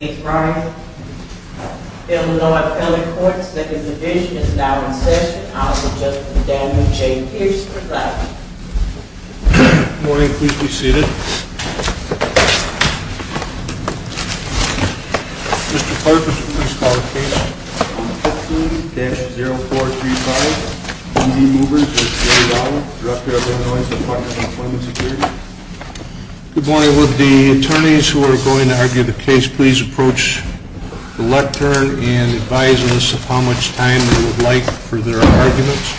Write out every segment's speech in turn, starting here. Good morning. The Illinois Federal Courts Second Division is now in session. I'll be judging the Daniel J. Pierce case for that. Good morning. Please be seated. Mr. Clark, please call the case. 15-0435, E-Z Movers v. Rowell, Director of Illinois Department of Employment Security. Good morning. Would the attorneys who are going to argue the case please approach the lectern and advise us of how much time they would like for their arguments.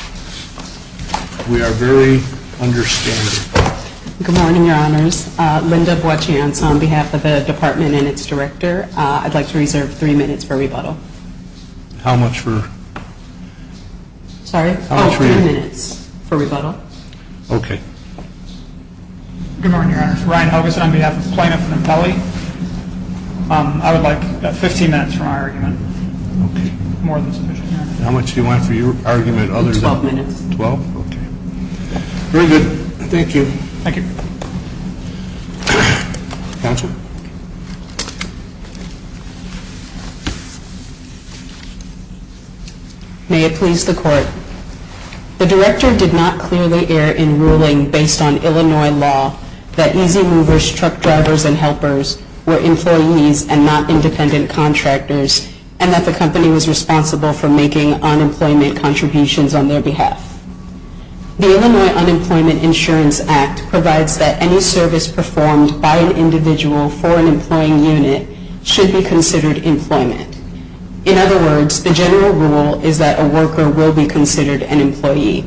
We are very understanding. Good morning, Your Honors. Linda Boachance on behalf of the department and its director. I'd like to reserve three minutes for rebuttal. How much for? Sorry? Oh, three minutes for rebuttal. Okay. Good morning, Your Honor. Ryan Hogason on behalf of plaintiff and appellee. I would like 15 minutes for my argument. Okay. More than sufficient. How much do you want for your argument? Others? Twelve minutes. Twelve? Okay. Very good. Thank you. Thank you. Counsel? Thank you. May it please the Court. The director did not clearly air in ruling based on Illinois law that E-Z Movers truck drivers and helpers were employees and not independent contractors, and that the company was responsible for making unemployment contributions on their behalf. The Illinois Unemployment Insurance Act provides that any service performed by an individual for an employing unit should be considered employment. In other words, the general rule is that a worker will be considered an employee.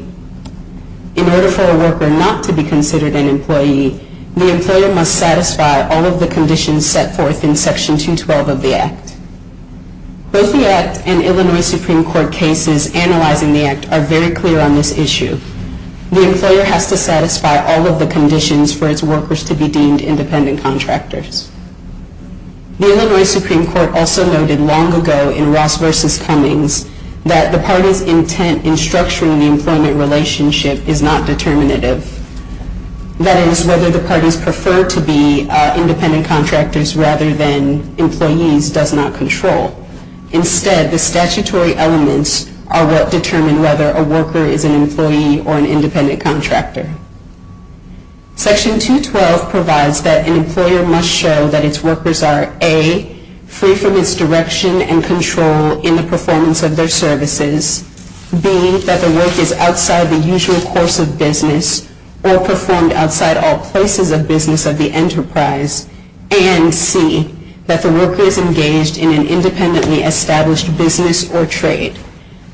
In order for a worker not to be considered an employee, the employer must satisfy all of the conditions set forth in Section 212 of the Act. Both the Act and Illinois Supreme Court cases analyzing the Act are very clear on this issue. The employer has to satisfy all of the conditions for its workers to be deemed independent contractors. The Illinois Supreme Court also noted long ago in Ross v. Cummings that the party's intent in structuring the employment relationship is not determinative. That is, whether the parties prefer to be independent contractors rather than employees does not control. Instead, the statutory elements are what determine whether a worker is an employee or an independent contractor. Section 212 provides that an employer must show that its workers are, A, free from misdirection and control in the performance of their services, B, that the work is outside the usual course of business or performed outside all places of business of the enterprise, and C, that the worker is engaged in an independently established business or trade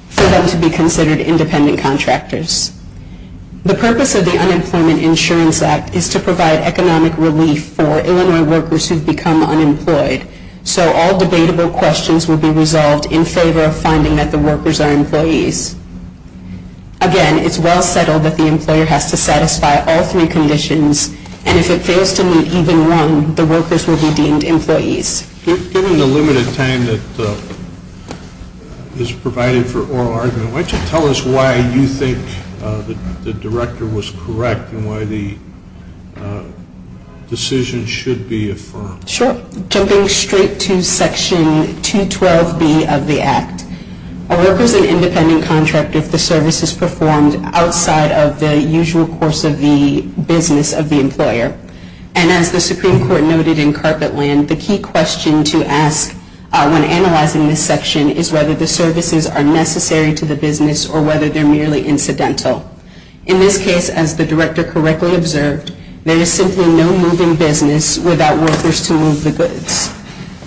for them to be considered independent contractors. The purpose of the Unemployment Insurance Act is to provide economic relief for Illinois workers who have become unemployed, so all debatable questions will be resolved in favor of finding that the workers are employees. Again, it's well settled that the employer has to satisfy all three conditions, and if it fails to meet even one, the workers will be deemed employees. Given the limited time that is provided for oral argument, why don't you tell us why you think the Director was correct and why the decision should be affirmed? Sure. Jumping straight to Section 212B of the Act, a worker is an independent contractor if the service is performed outside of the usual course of the business of the employer. And as the Supreme Court noted in Carpetland, the key question to ask when analyzing this section is whether the services are necessary to the business or whether they're merely incidental. In this case, as the Director correctly observed, there is simply no moving business without workers to move the goods.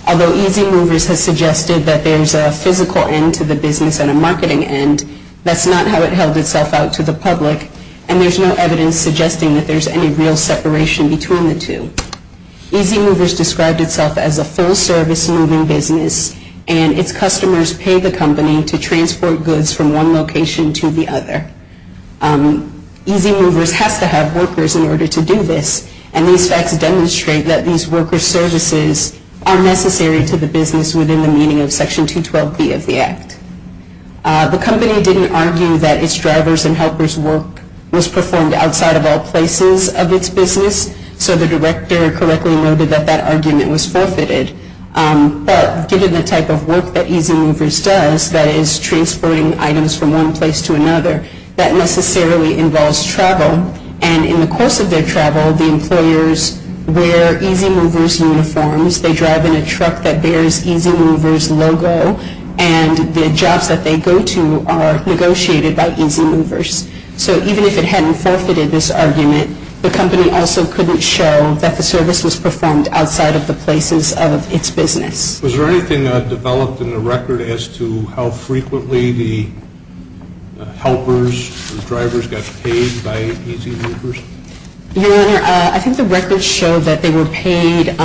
Although Easy Movers has suggested that there's a physical end to the business and a marketing end, that's not how it held itself out to the public, and there's no evidence suggesting that there's any real separation between the two. Easy Movers described itself as a full-service moving business, and its customers pay the company to transport goods from one location to the other. Easy Movers has to have workers in order to do this, and these facts demonstrate that these worker services are necessary to the business within the meaning of Section 212B of the Act. The company didn't argue that its drivers and helpers' work was performed outside of all places of its business, so the Director correctly noted that that argument was forfeited. But given the type of work that Easy Movers does, that is, transporting items from one place to another, that necessarily involves travel, and in the course of their travel, the employers wear Easy Movers uniforms, they drive in a truck that bears Easy Movers' logo, and the jobs that they go to are negotiated by Easy Movers. So even if it hadn't forfeited this argument, the company also couldn't show that the service was performed outside of the places of its business. Was there anything developed in the record as to how frequently the helpers and drivers got paid by Easy Movers? Your Honor, I think the record showed that they were paid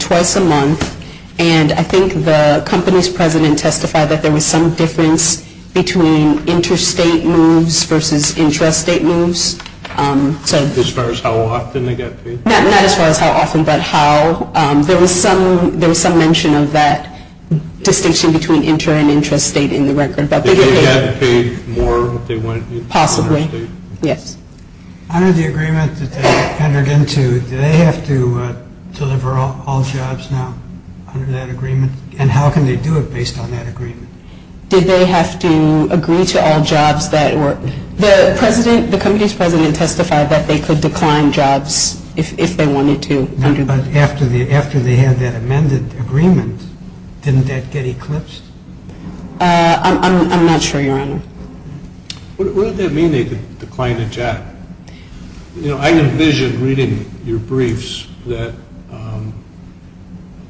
twice a month, and I think the company's president testified that there was some difference between interstate moves versus intrastate moves. As far as how often they got paid? Not as far as how often, but how. There was some mention of that distinction between inter- and intrastate in the record. Did they get paid more if they went intrastate? Possibly, yes. Under the agreement that they entered into, do they have to deliver all jobs now under that agreement, and how can they do it based on that agreement? Did they have to agree to all jobs that were? The company's president testified that they could decline jobs if they wanted to. But after they had that amended agreement, didn't that get eclipsed? I'm not sure, Your Honor. What did that mean, they could decline a job? You know, I envisioned reading your briefs that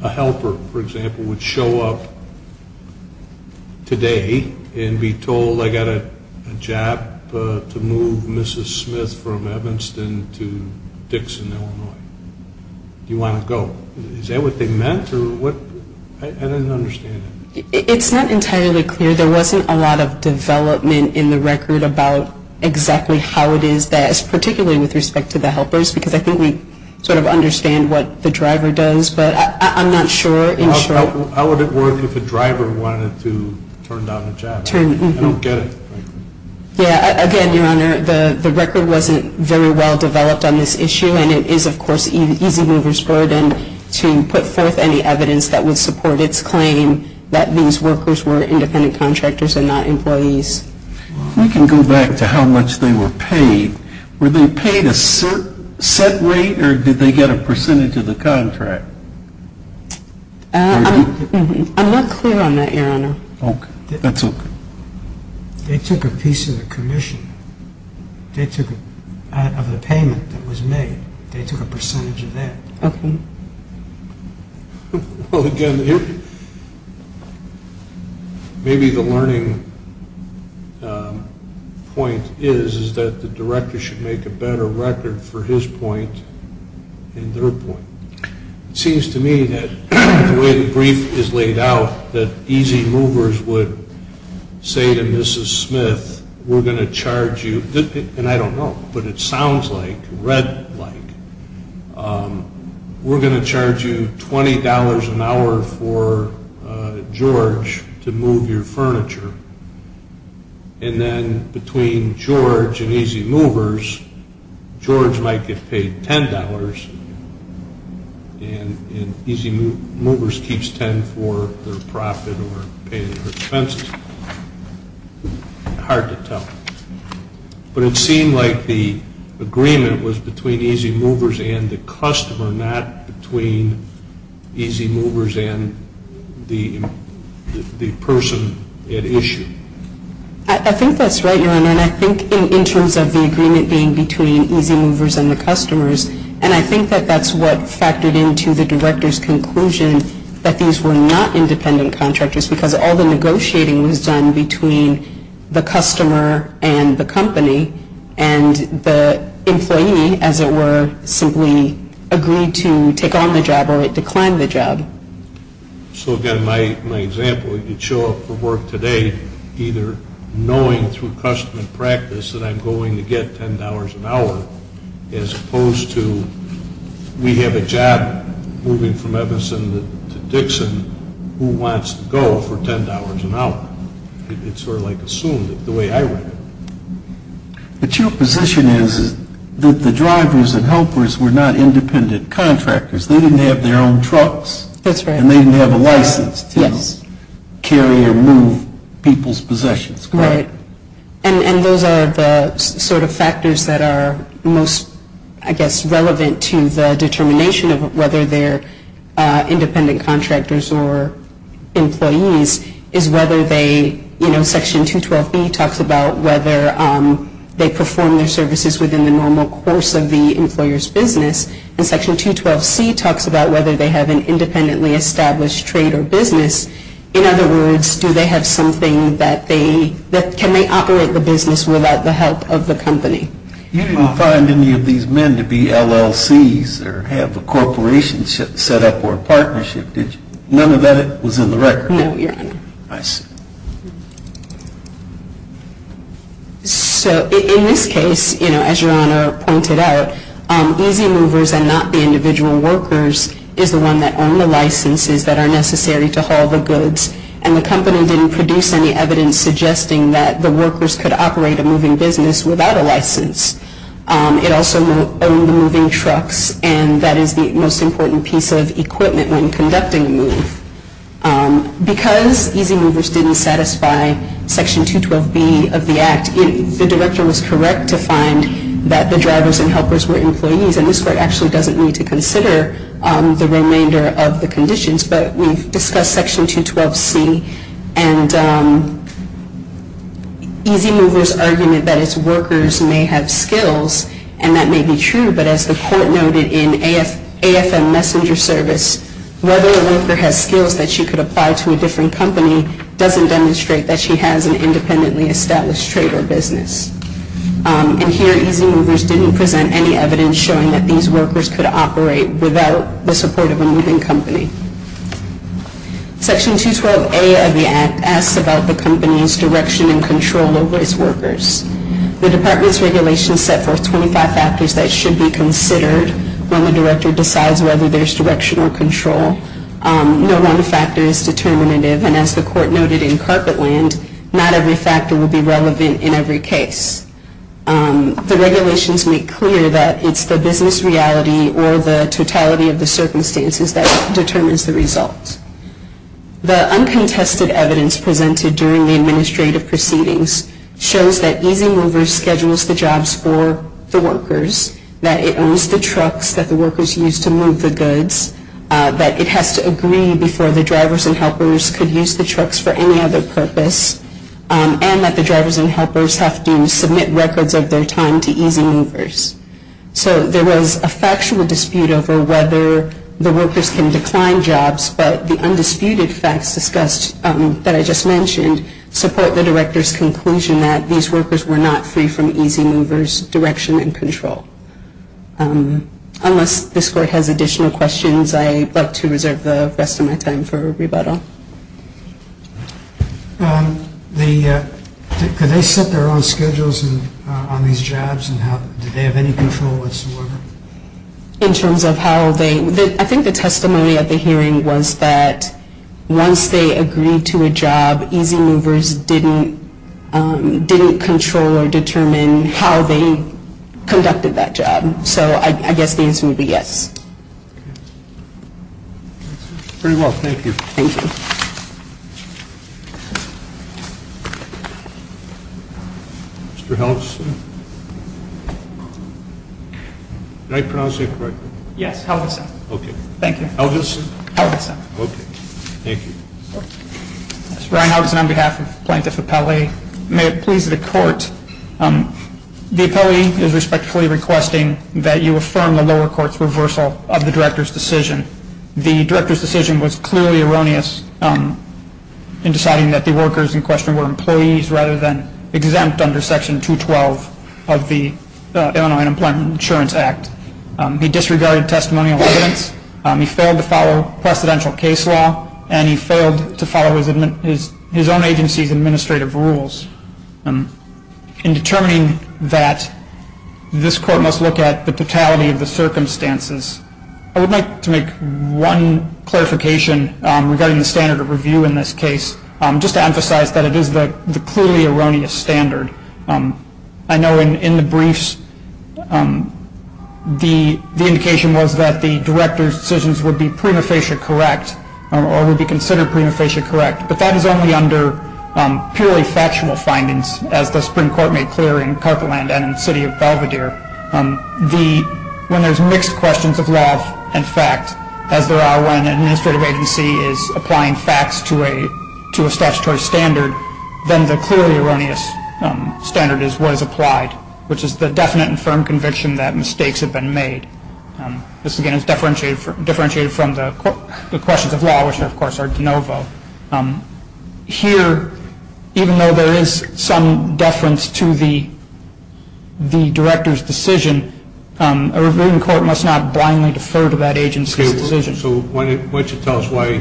a helper, for example, would show up today and be told I got a job to move Mrs. Smith from Evanston to Dixon, Illinois. Do you want to go? Is that what they meant, or what? I didn't understand it. It's not entirely clear. There wasn't a lot of development in the record about exactly how it is that, particularly with respect to the helpers, because I think we sort of understand what the driver does. But I'm not sure. How would it work if a driver wanted to turn down a job? I don't get it. Again, Your Honor, the record wasn't very well developed on this issue, and it is, of course, easy mover's burden to put forth any evidence that would support its claim that these workers were independent contractors and not employees. If we can go back to how much they were paid, were they paid a set rate, or did they get a percentage of the contract? I'm not clear on that, Your Honor. Okay. That's okay. They took a piece of the commission. They took a part of the payment that was made. They took a percentage of that. Okay. Well, again, maybe the learning point is that the director should make a better record for his point and their point. It seems to me that the way the brief is laid out, that easy movers would say to Mrs. Smith, we're going to charge you, and I don't know, but it sounds like, read like, we're going to charge you $20 an hour for George to move your furniture, and then between George and easy movers, George might get paid $10, and easy movers keeps $10 for their profit or paying their expenses. Hard to tell. But it seemed like the agreement was between easy movers and the customer, not between easy movers and the person at issue. I think that's right, Your Honor, and I think in terms of the agreement being between easy movers and the customers, and I think that that's what factored into the director's conclusion that these were not independent contractors because all the negotiating was done between the customer and the company, and the employee, as it were, simply agreed to take on the job or decline the job. So, again, my example, you show up for work today either knowing through custom and practice that I'm going to get $10 an hour as opposed to we have a job moving from Evanson to Dixon. Who wants to go for $10 an hour? It's sort of like assumed, the way I read it. But your position is that the drivers and helpers were not independent contractors. They didn't have their own trucks, and they didn't have a license to carry or move people's possessions. Right. And those are the sort of factors that are most, I guess, relevant to the determination of whether they're independent contractors or employees is whether they, you know, Section 212B talks about whether they perform their services within the normal course of the employer's business, and Section 212C talks about whether they have an independently established trade or business. In other words, do they have something that they, can they operate the business without the help of the company? You didn't find any of these men to be LLCs or have a corporation set up or a partnership, did you? None of that was in the record. No, Your Honor. I see. So, in this case, you know, as Your Honor pointed out, easy movers and not the individual workers is the one that And the company didn't produce any evidence suggesting that the workers could operate a moving business without a license. It also owned the moving trucks, and that is the most important piece of equipment when conducting a move. Because easy movers didn't satisfy Section 212B of the Act, the director was correct to find that the drivers and helpers were employees, and this Court actually doesn't need to consider the remainder of the conditions, but we've discussed Section 212C and easy movers' argument that its workers may have skills, and that may be true, but as the Court noted in AFM Messenger Service, whether a worker has skills that she could apply to a different company doesn't demonstrate that she has an independently established trade or business. And here, easy movers didn't present any evidence showing that these workers could operate without the support of a moving company. Section 212A of the Act asks about the company's direction and control over its workers. The Department's regulations set forth 25 factors that should be considered when the director decides whether there's direction or control. No one factor is determinative, and as the Court noted in Carpetland, not every factor will be relevant in every case. The regulations make clear that it's the business reality or the totality of the circumstances that determines the result. The uncontested evidence presented during the administrative proceedings shows that easy movers schedules the jobs for the workers, that it owns the trucks that the workers use to move the goods, that it has to agree before the drivers and helpers could use the trucks for any other purpose, and that the drivers and helpers have to submit records of their time to easy movers. So there was a factual dispute over whether the workers can decline jobs, but the undisputed facts discussed that I just mentioned support the director's conclusion that these workers were not free from easy movers' direction and control. Unless this Court has additional questions, I'd like to reserve the rest of my time for rebuttal. Could they set their own schedules on these jobs, and did they have any control whatsoever? In terms of how they, I think the testimony at the hearing was that once they agreed to a job, easy movers didn't control or determine how they conducted that job. So I guess the answer would be yes. Very well, thank you. Thank you. Mr. Helgeson? Did I pronounce that correctly? Yes, Helgeson. Okay. Thank you. Helgeson? Helgeson. Okay, thank you. Ryan Helgeson on behalf of Plaintiff Appellee. May it please the Court, the appellee is respectfully requesting that you affirm the lower court's reversal of the director's decision. The director's decision was clearly erroneous in deciding that the workers in question were employees rather than exempt under Section 212 of the Illinois Unemployment Insurance Act. He disregarded testimonial evidence. He failed to follow precedential case law, and he failed to follow his own agency's administrative rules. In determining that, this Court must look at the totality of the circumstances. I would like to make one clarification regarding the standard of review in this case, just to emphasize that it is the clearly erroneous standard. I know in the briefs, the indication was that the director's decisions would be prima facie correct, or would be considered prima facie correct, but that is only under purely factual findings, as the Supreme Court made clear in Carpeland and in the city of Belvedere. When there's mixed questions of law and fact, as there are when an administrative agency is applying facts to a statutory standard, then the clearly erroneous standard is what is applied, which is the definite and firm conviction that mistakes have been made. This, again, is differentiated from the questions of law, which, of course, are de novo. Here, even though there is some deference to the director's decision, a reviewing court must not blindly defer to that agency's decision. Okay, so why don't you tell us why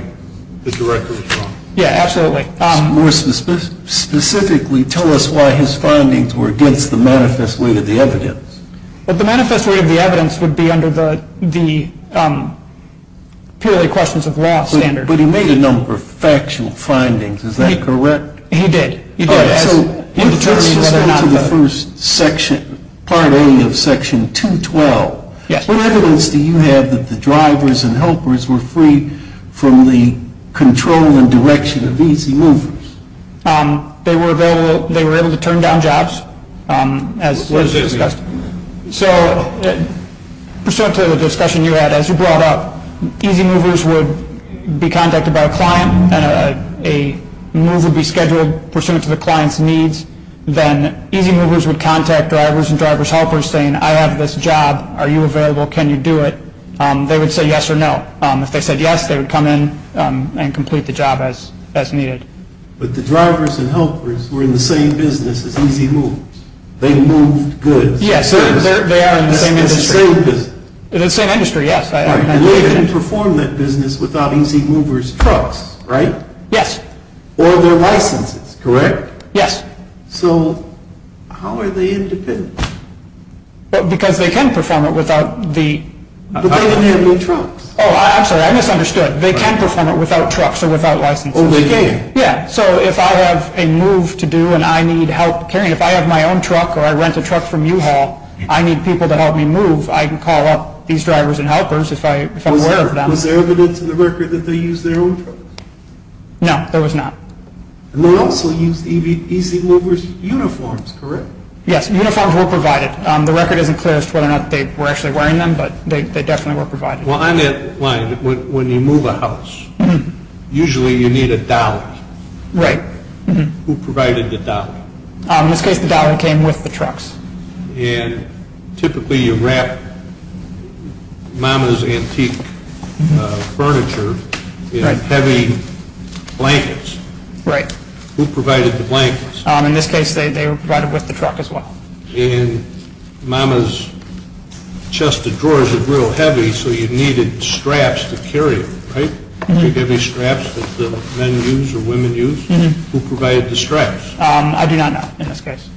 the director was wrong? Yeah, absolutely. More specifically, tell us why his findings were against the manifest weight of the evidence. Well, the manifest weight of the evidence would be under the purely questions of law standard. But he made a number of factual findings. Is that correct? He did. All right, so let's just go to the first section, Part A of Section 212. Yes. What evidence do you have that the drivers and helpers were free from the control and direction of easy movers? They were able to turn down jobs, as was discussed. So pursuant to the discussion you had, as you brought up, easy movers would be contacted by a client, and a move would be scheduled pursuant to the client's needs. Then easy movers would contact drivers and driver's helpers, saying, I have this job. Are you available? Can you do it? They would say yes or no. If they said yes, they would come in and complete the job as needed. But the drivers and helpers were in the same business as easy movers. Yes, they are in the same industry. In the same business. In the same industry, yes. And they can perform that business without easy movers' trucks, right? Yes. Or their licenses, correct? Yes. So how are they independent? Because they can perform it without the... But they didn't have any trucks. Oh, I'm sorry, I misunderstood. They can perform it without trucks or without licenses. Oh, they didn't? Yeah. So if I have a move to do and I need help carrying, if I have my own truck or I rent a truck from U-Haul, I need people to help me move, I can call up these drivers and helpers if I'm aware of them. Was there evidence in the record that they used their own trucks? No, there was not. And they also used easy movers' uniforms, correct? Yes, uniforms were provided. The record isn't clear as to whether or not they were actually wearing them, but they definitely were provided. Well, on that line, when you move a house, usually you need a dolly. Right. Who provided the dolly? In this case, the dolly came with the trucks. And typically you wrap Mama's antique furniture in heavy blankets. Right. Who provided the blankets? In this case, they were provided with the truck as well. And Mama's chest of drawers were real heavy, so you needed straps to carry it, right? The heavy straps that the men use or women use. Who provided the straps? I do not know in this case.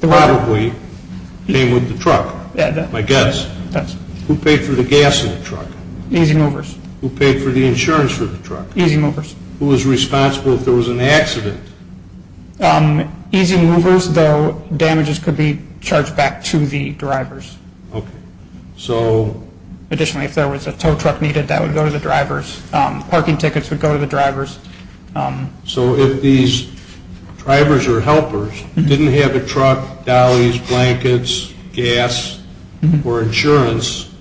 Probably came with the truck, I guess. Who paid for the gas in the truck? Easy movers. Who paid for the insurance for the truck? Easy movers. Who was responsible if there was an accident? Easy movers, though damages could be charged back to the drivers. Okay. Additionally, if there was a tow truck needed, that would go to the drivers. Parking tickets would go to the drivers. So if these drivers or helpers didn't have a truck, dollies, blankets, gas, or insurance,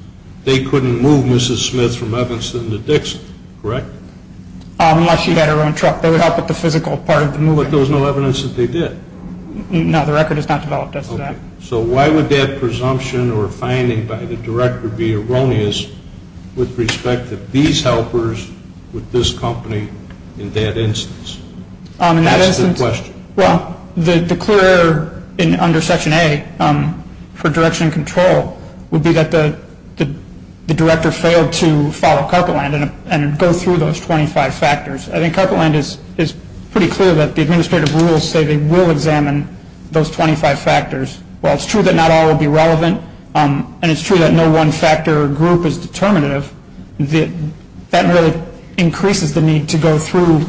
they couldn't move Mrs. Smith from Evanston to Dixon, correct? Unless she had her own truck. They would help with the physical part of the movement. But there was no evidence that they did? No, the record is not developed as to that. Okay. So why would that presumption or finding by the director be erroneous with respect to these helpers with this company in that instance? That's the question. Well, the clear under Section A for direction and control would be that the director failed to follow Carpetland and go through those 25 factors. I think Carpetland is pretty clear that the administrative rules say they will examine those 25 factors. While it's true that not all will be relevant, and it's true that no one factor or group is determinative, that really increases the need to go through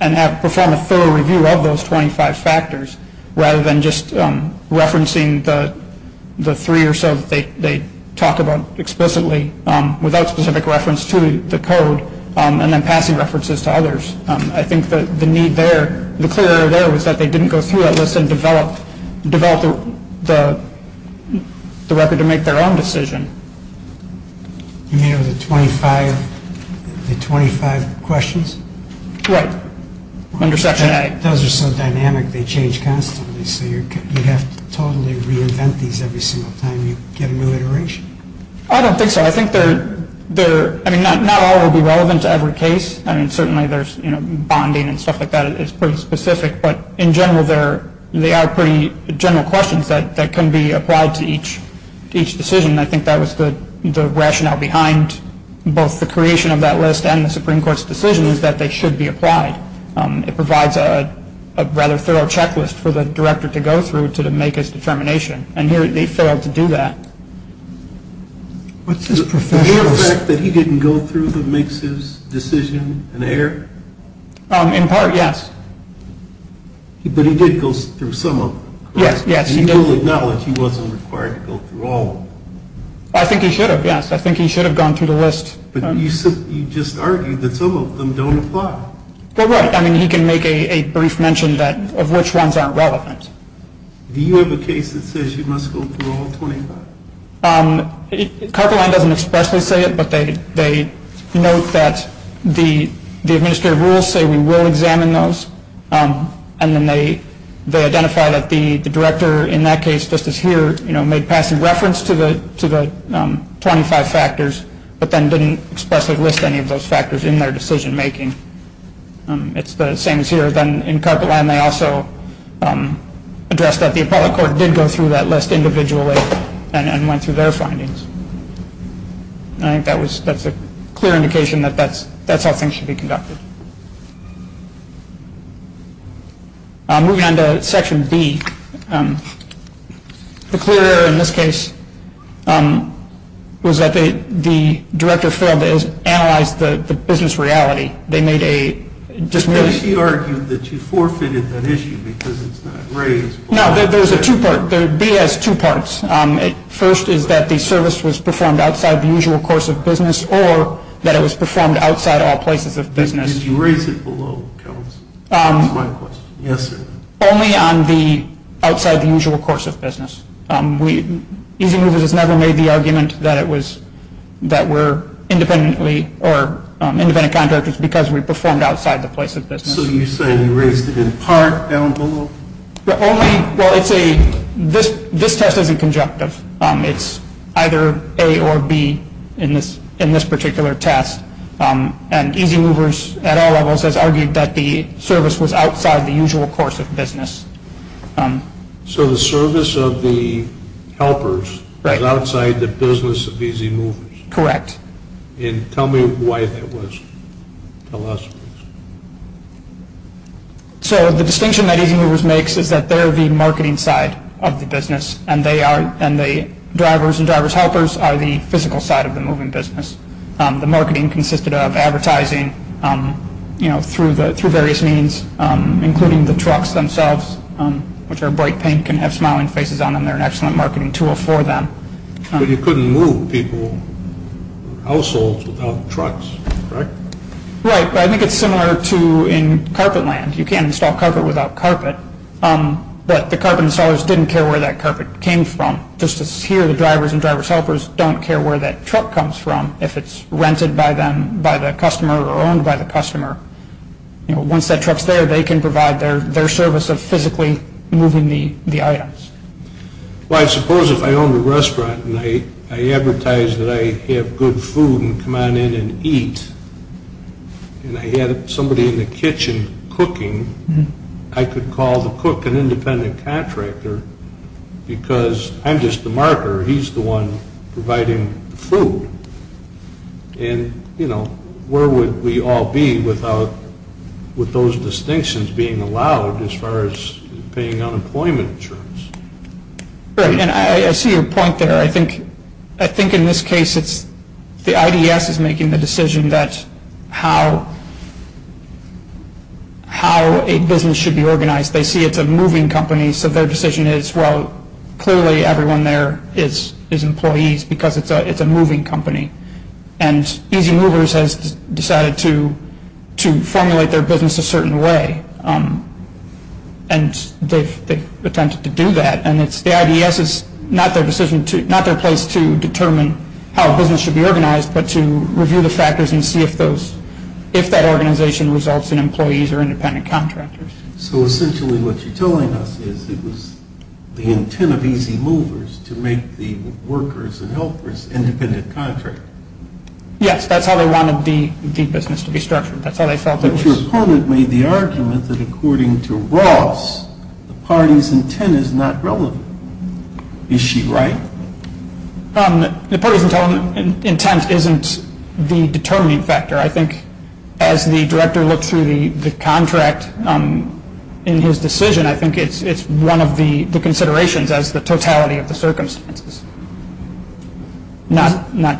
and perform a thorough review of those 25 factors rather than just referencing the three or so that they talk about explicitly without specific reference to the code and then passing references to others. I think the need there, the clear there was that they didn't go through that list and develop the record to make their own decision. You mean the 25 questions? Right, under Section A. Those are so dynamic, they change constantly. So you have to totally reinvent these every single time you get a new iteration? I don't think so. I think they're, I mean, not all will be relevant to every case. I mean, certainly there's bonding and stuff like that is pretty specific, but in general they are pretty general questions that can be applied to each decision. I think that was the rationale behind both the creation of that list and the Supreme Court's decision is that they should be applied. It provides a rather thorough checklist for the director to go through to make his determination, and here they failed to do that. The mere fact that he didn't go through that makes his decision an error? In part, yes. But he did go through some of them, correct? Yes, yes, he did. And you will acknowledge he wasn't required to go through all of them? I think he should have, yes. I think he should have gone through the list. But you just argued that some of them don't apply. Well, right. I mean, he can make a brief mention of which ones aren't relevant. Do you have a case that says you must go through all 25? Carpet Line doesn't expressly say it, but they note that the administrative rules say we will examine those, and then they identify that the director in that case, just as here, made passing reference to the 25 factors but then didn't expressly list any of those factors in their decision making. It's the same as here. In Carpet Line, they also address that the appellate court did go through that list individually and went through their findings. I think that's a clear indication that that's how things should be conducted. Moving on to Section B. The clear error in this case was that the director failed to analyze the business reality. He argued that you forfeited that issue because it's not raised. No. There's a two-part. B has two parts. First is that the service was performed outside the usual course of business or that it was performed outside all places of business. Did you raise it below? That's my question. Yes, sir. Only on the outside the usual course of business. Easy Movers has never made the argument that we're independent contractors because we performed outside the place of business. So you say you raised it in part down below? Well, this test isn't conjunctive. It's either A or B in this particular test, and Easy Movers at all levels has argued that the service was outside the usual course of business. So the service of the helpers is outside the business of Easy Movers? Correct. And tell me why that was. Tell us. So the distinction that Easy Movers makes is that they're the marketing side of the business, and the drivers and driver's helpers are the physical side of the moving business. The marketing consisted of advertising through various means, including the trucks themselves, which are bright pink and have smiling faces on them. They're an excellent marketing tool for them. But you couldn't move people or households without trucks, correct? Right, but I think it's similar to in carpet land. You can't install carpet without carpet. But the carpet installers didn't care where that carpet came from. Just as here the drivers and driver's helpers don't care where that truck comes from, if it's rented by the customer or owned by the customer. Once that truck's there, they can provide their service of physically moving the items. Well, I suppose if I owned a restaurant and I advertised that I have good food and come on in and eat, and I had somebody in the kitchen cooking, I could call the cook an independent contractor because I'm just the marker. He's the one providing the food. And, you know, where would we all be without those distinctions being allowed as far as paying unemployment insurance? Right, and I see your point there. I think in this case it's the IDS is making the decision that how a business should be organized. They see it's a moving company, so their decision is, well, clearly everyone there is employees because it's a moving company. And Easy Movers has decided to formulate their business a certain way, and they've attempted to do that. And the IDS is not their place to determine how a business should be organized, but to review the factors and see if that organization results in employees or independent contractors. So essentially what you're telling us is it was the intent of Easy Movers to make the workers and helpers independent contractors. Yes, that's how they wanted the business to be structured. That's how they felt it was. But your opponent made the argument that according to Ross, the party's intent is not relevant. Is she right? The party's intent isn't the determining factor. I think as the director looks through the contract in his decision, I think it's one of the considerations as the totality of the circumstances. It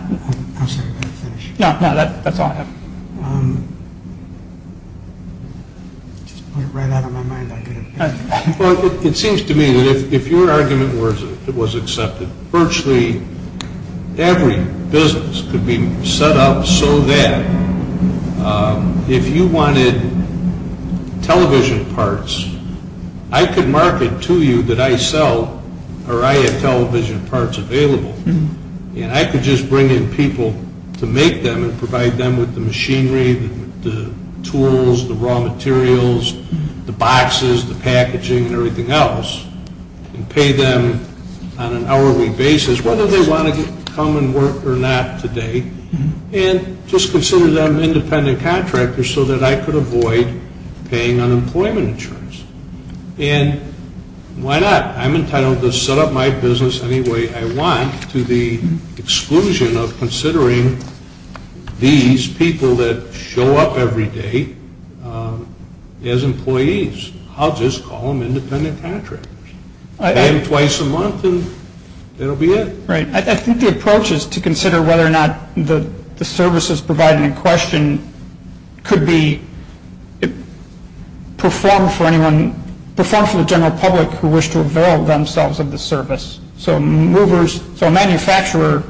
seems to me that if your argument was accepted, virtually every business could be set up so that if you wanted television parts, I could market to you that I sell or I have television parts available, and I could just bring in people to make them and provide them with the machinery, the tools, the raw materials, the boxes, the packaging, and everything else, and pay them on an hourly basis whether they want to come and work or not today, and just consider them independent contractors so that I could avoid paying unemployment insurance. And why not? I'm entitled to set up my business any way I want to the exclusion of considering these people that show up every day as employees. I'll just call them independent contractors. Pay them twice a month and that will be it. Right. I think the approach is to consider whether or not the services provided in question could be performed for the general public who wish to avail themselves of the service. So a manufacturer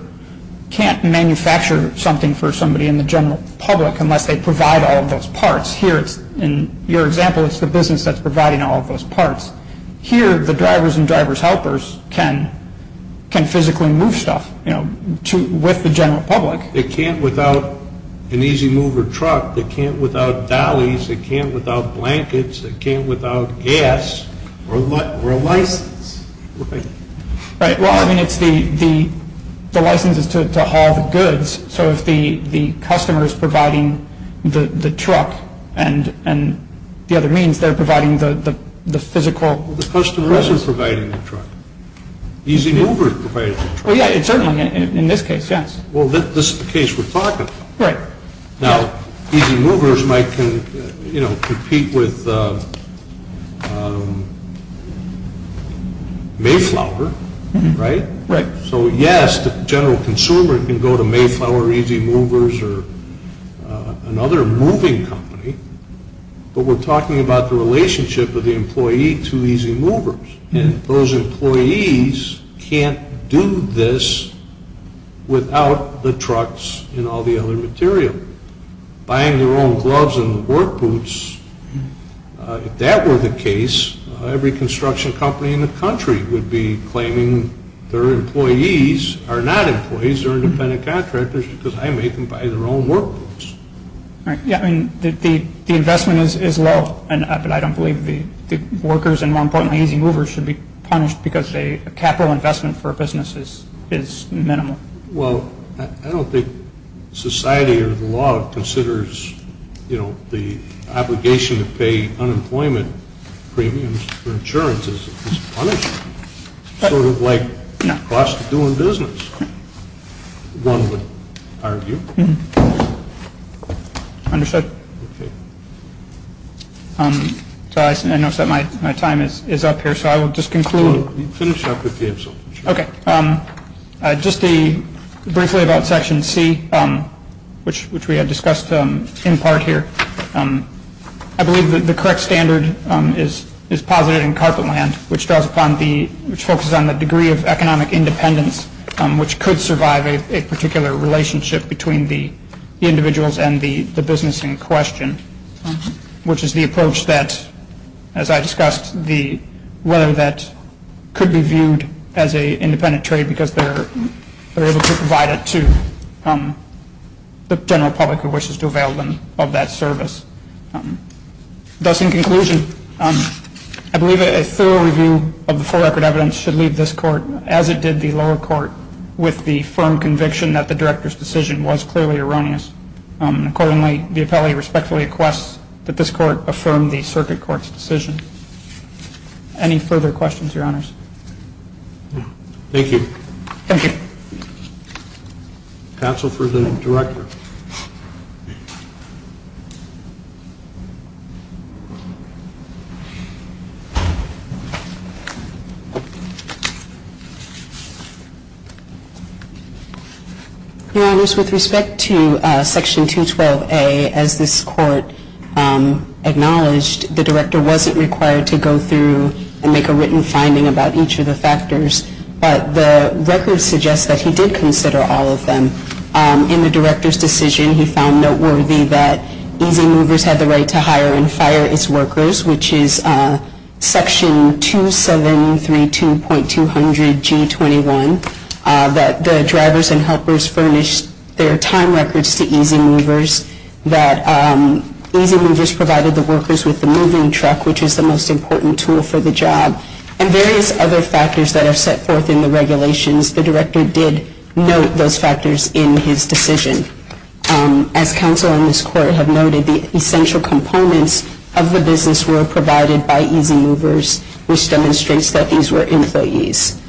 can't manufacture something for somebody in the general public unless they provide all of those parts. Here, in your example, it's the business that's providing all of those parts. Here, the drivers and driver's helpers can physically move stuff with the general public. They can't without an easy mover truck. They can't without dollies. They can't without blankets. They can't without gas or a license. Right. Well, I mean, the license is to haul the goods. So if the customer is providing the truck and the other means, they're providing the physical goods. Well, the customer isn't providing the truck. Easy mover provides the truck. Well, yeah, certainly in this case, yes. Well, this is the case we're talking about. Right. Now, easy movers might compete with Mayflower, right? Right. So, yes, the general consumer can go to Mayflower, easy movers, or another moving company. But we're talking about the relationship of the employee to easy movers. And those employees can't do this without the trucks and all the other material. Buying their own gloves and work boots, if that were the case, every construction company in the country would be claiming their employees are not employees. They're independent contractors because I make them buy their own work boots. Right. Yeah, I mean, the investment is low, but I don't believe the workers and, more importantly, easy movers should be punished because a capital investment for a business is minimal. Well, I don't think society or the law considers, you know, the obligation to pay unemployment premiums for insurance is punishable. Sort of like the cost of doing business, one would argue. Understood. I notice that my time is up here, so I will just conclude. Finish up if you have something. Okay. Just briefly about Section C, which we had discussed in part here. I believe that the correct standard is positive in carpet land, which focuses on the degree of economic independence, which could survive a particular relationship between the individuals and the business in question, which is the approach that, as I discussed, whether that could be viewed as an independent trade because they're able to provide it to the general public who wishes to avail them of that service. Thus, in conclusion, I believe a thorough review of the full record evidence should leave this court, as it did the lower court, with the firm conviction that the director's decision was clearly erroneous. Accordingly, the appellee respectfully requests that this court affirm the circuit court's decision. Any further questions, Your Honors? Thank you. Thank you. Counsel for the director. Your Honors, with respect to Section 212A, as this court acknowledged, the director wasn't required to go through and make a written finding about each of the factors, but the record suggests that he did consider all of them in the director's decision. He found noteworthy that Easy Movers had the right to hire and fire its workers, which is Section 2732.200G21, that the drivers and helpers furnished their time records to Easy Movers, that Easy Movers provided the workers with the moving truck, which is the most important tool for the job, and various other factors that are set forth in the regulations. The director did note those factors in his decision. As counsel and this court have noted, the essential components of the business were provided by Easy Movers, which demonstrates that these were employees.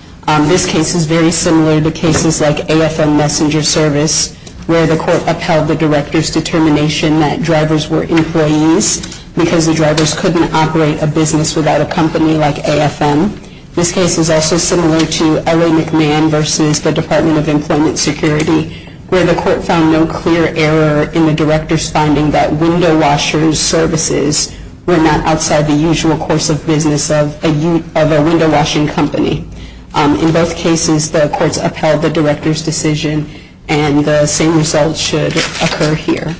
This case is very similar to cases like AFM Messenger Service, where the court upheld the director's determination that drivers were employees because the drivers couldn't operate a business without a company like AFM. This case is also similar to L.A. McMahon versus the Department of Employment Security, where the court found no clear error in the director's finding that window washer's services were not outside the usual course of business of a window washing company. In both cases, the courts upheld the director's decision, and the same result should occur here.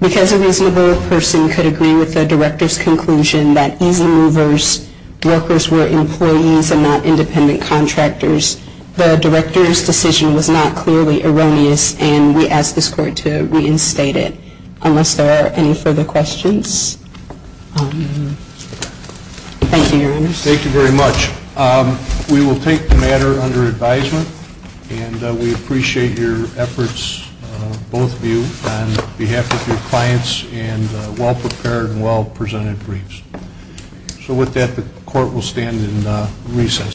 Because a reasonable person could agree with the director's conclusion that Easy Movers' workers were employees and not independent contractors, the director's decision was not clearly erroneous, and we ask this court to reinstate it. Unless there are any further questions? Thank you, Your Honors. Thank you very much. We will take the matter under advisement, and we appreciate your efforts, both of you, on behalf of your clients and well-prepared and well-presented briefs. So with that, the court will stand in recess.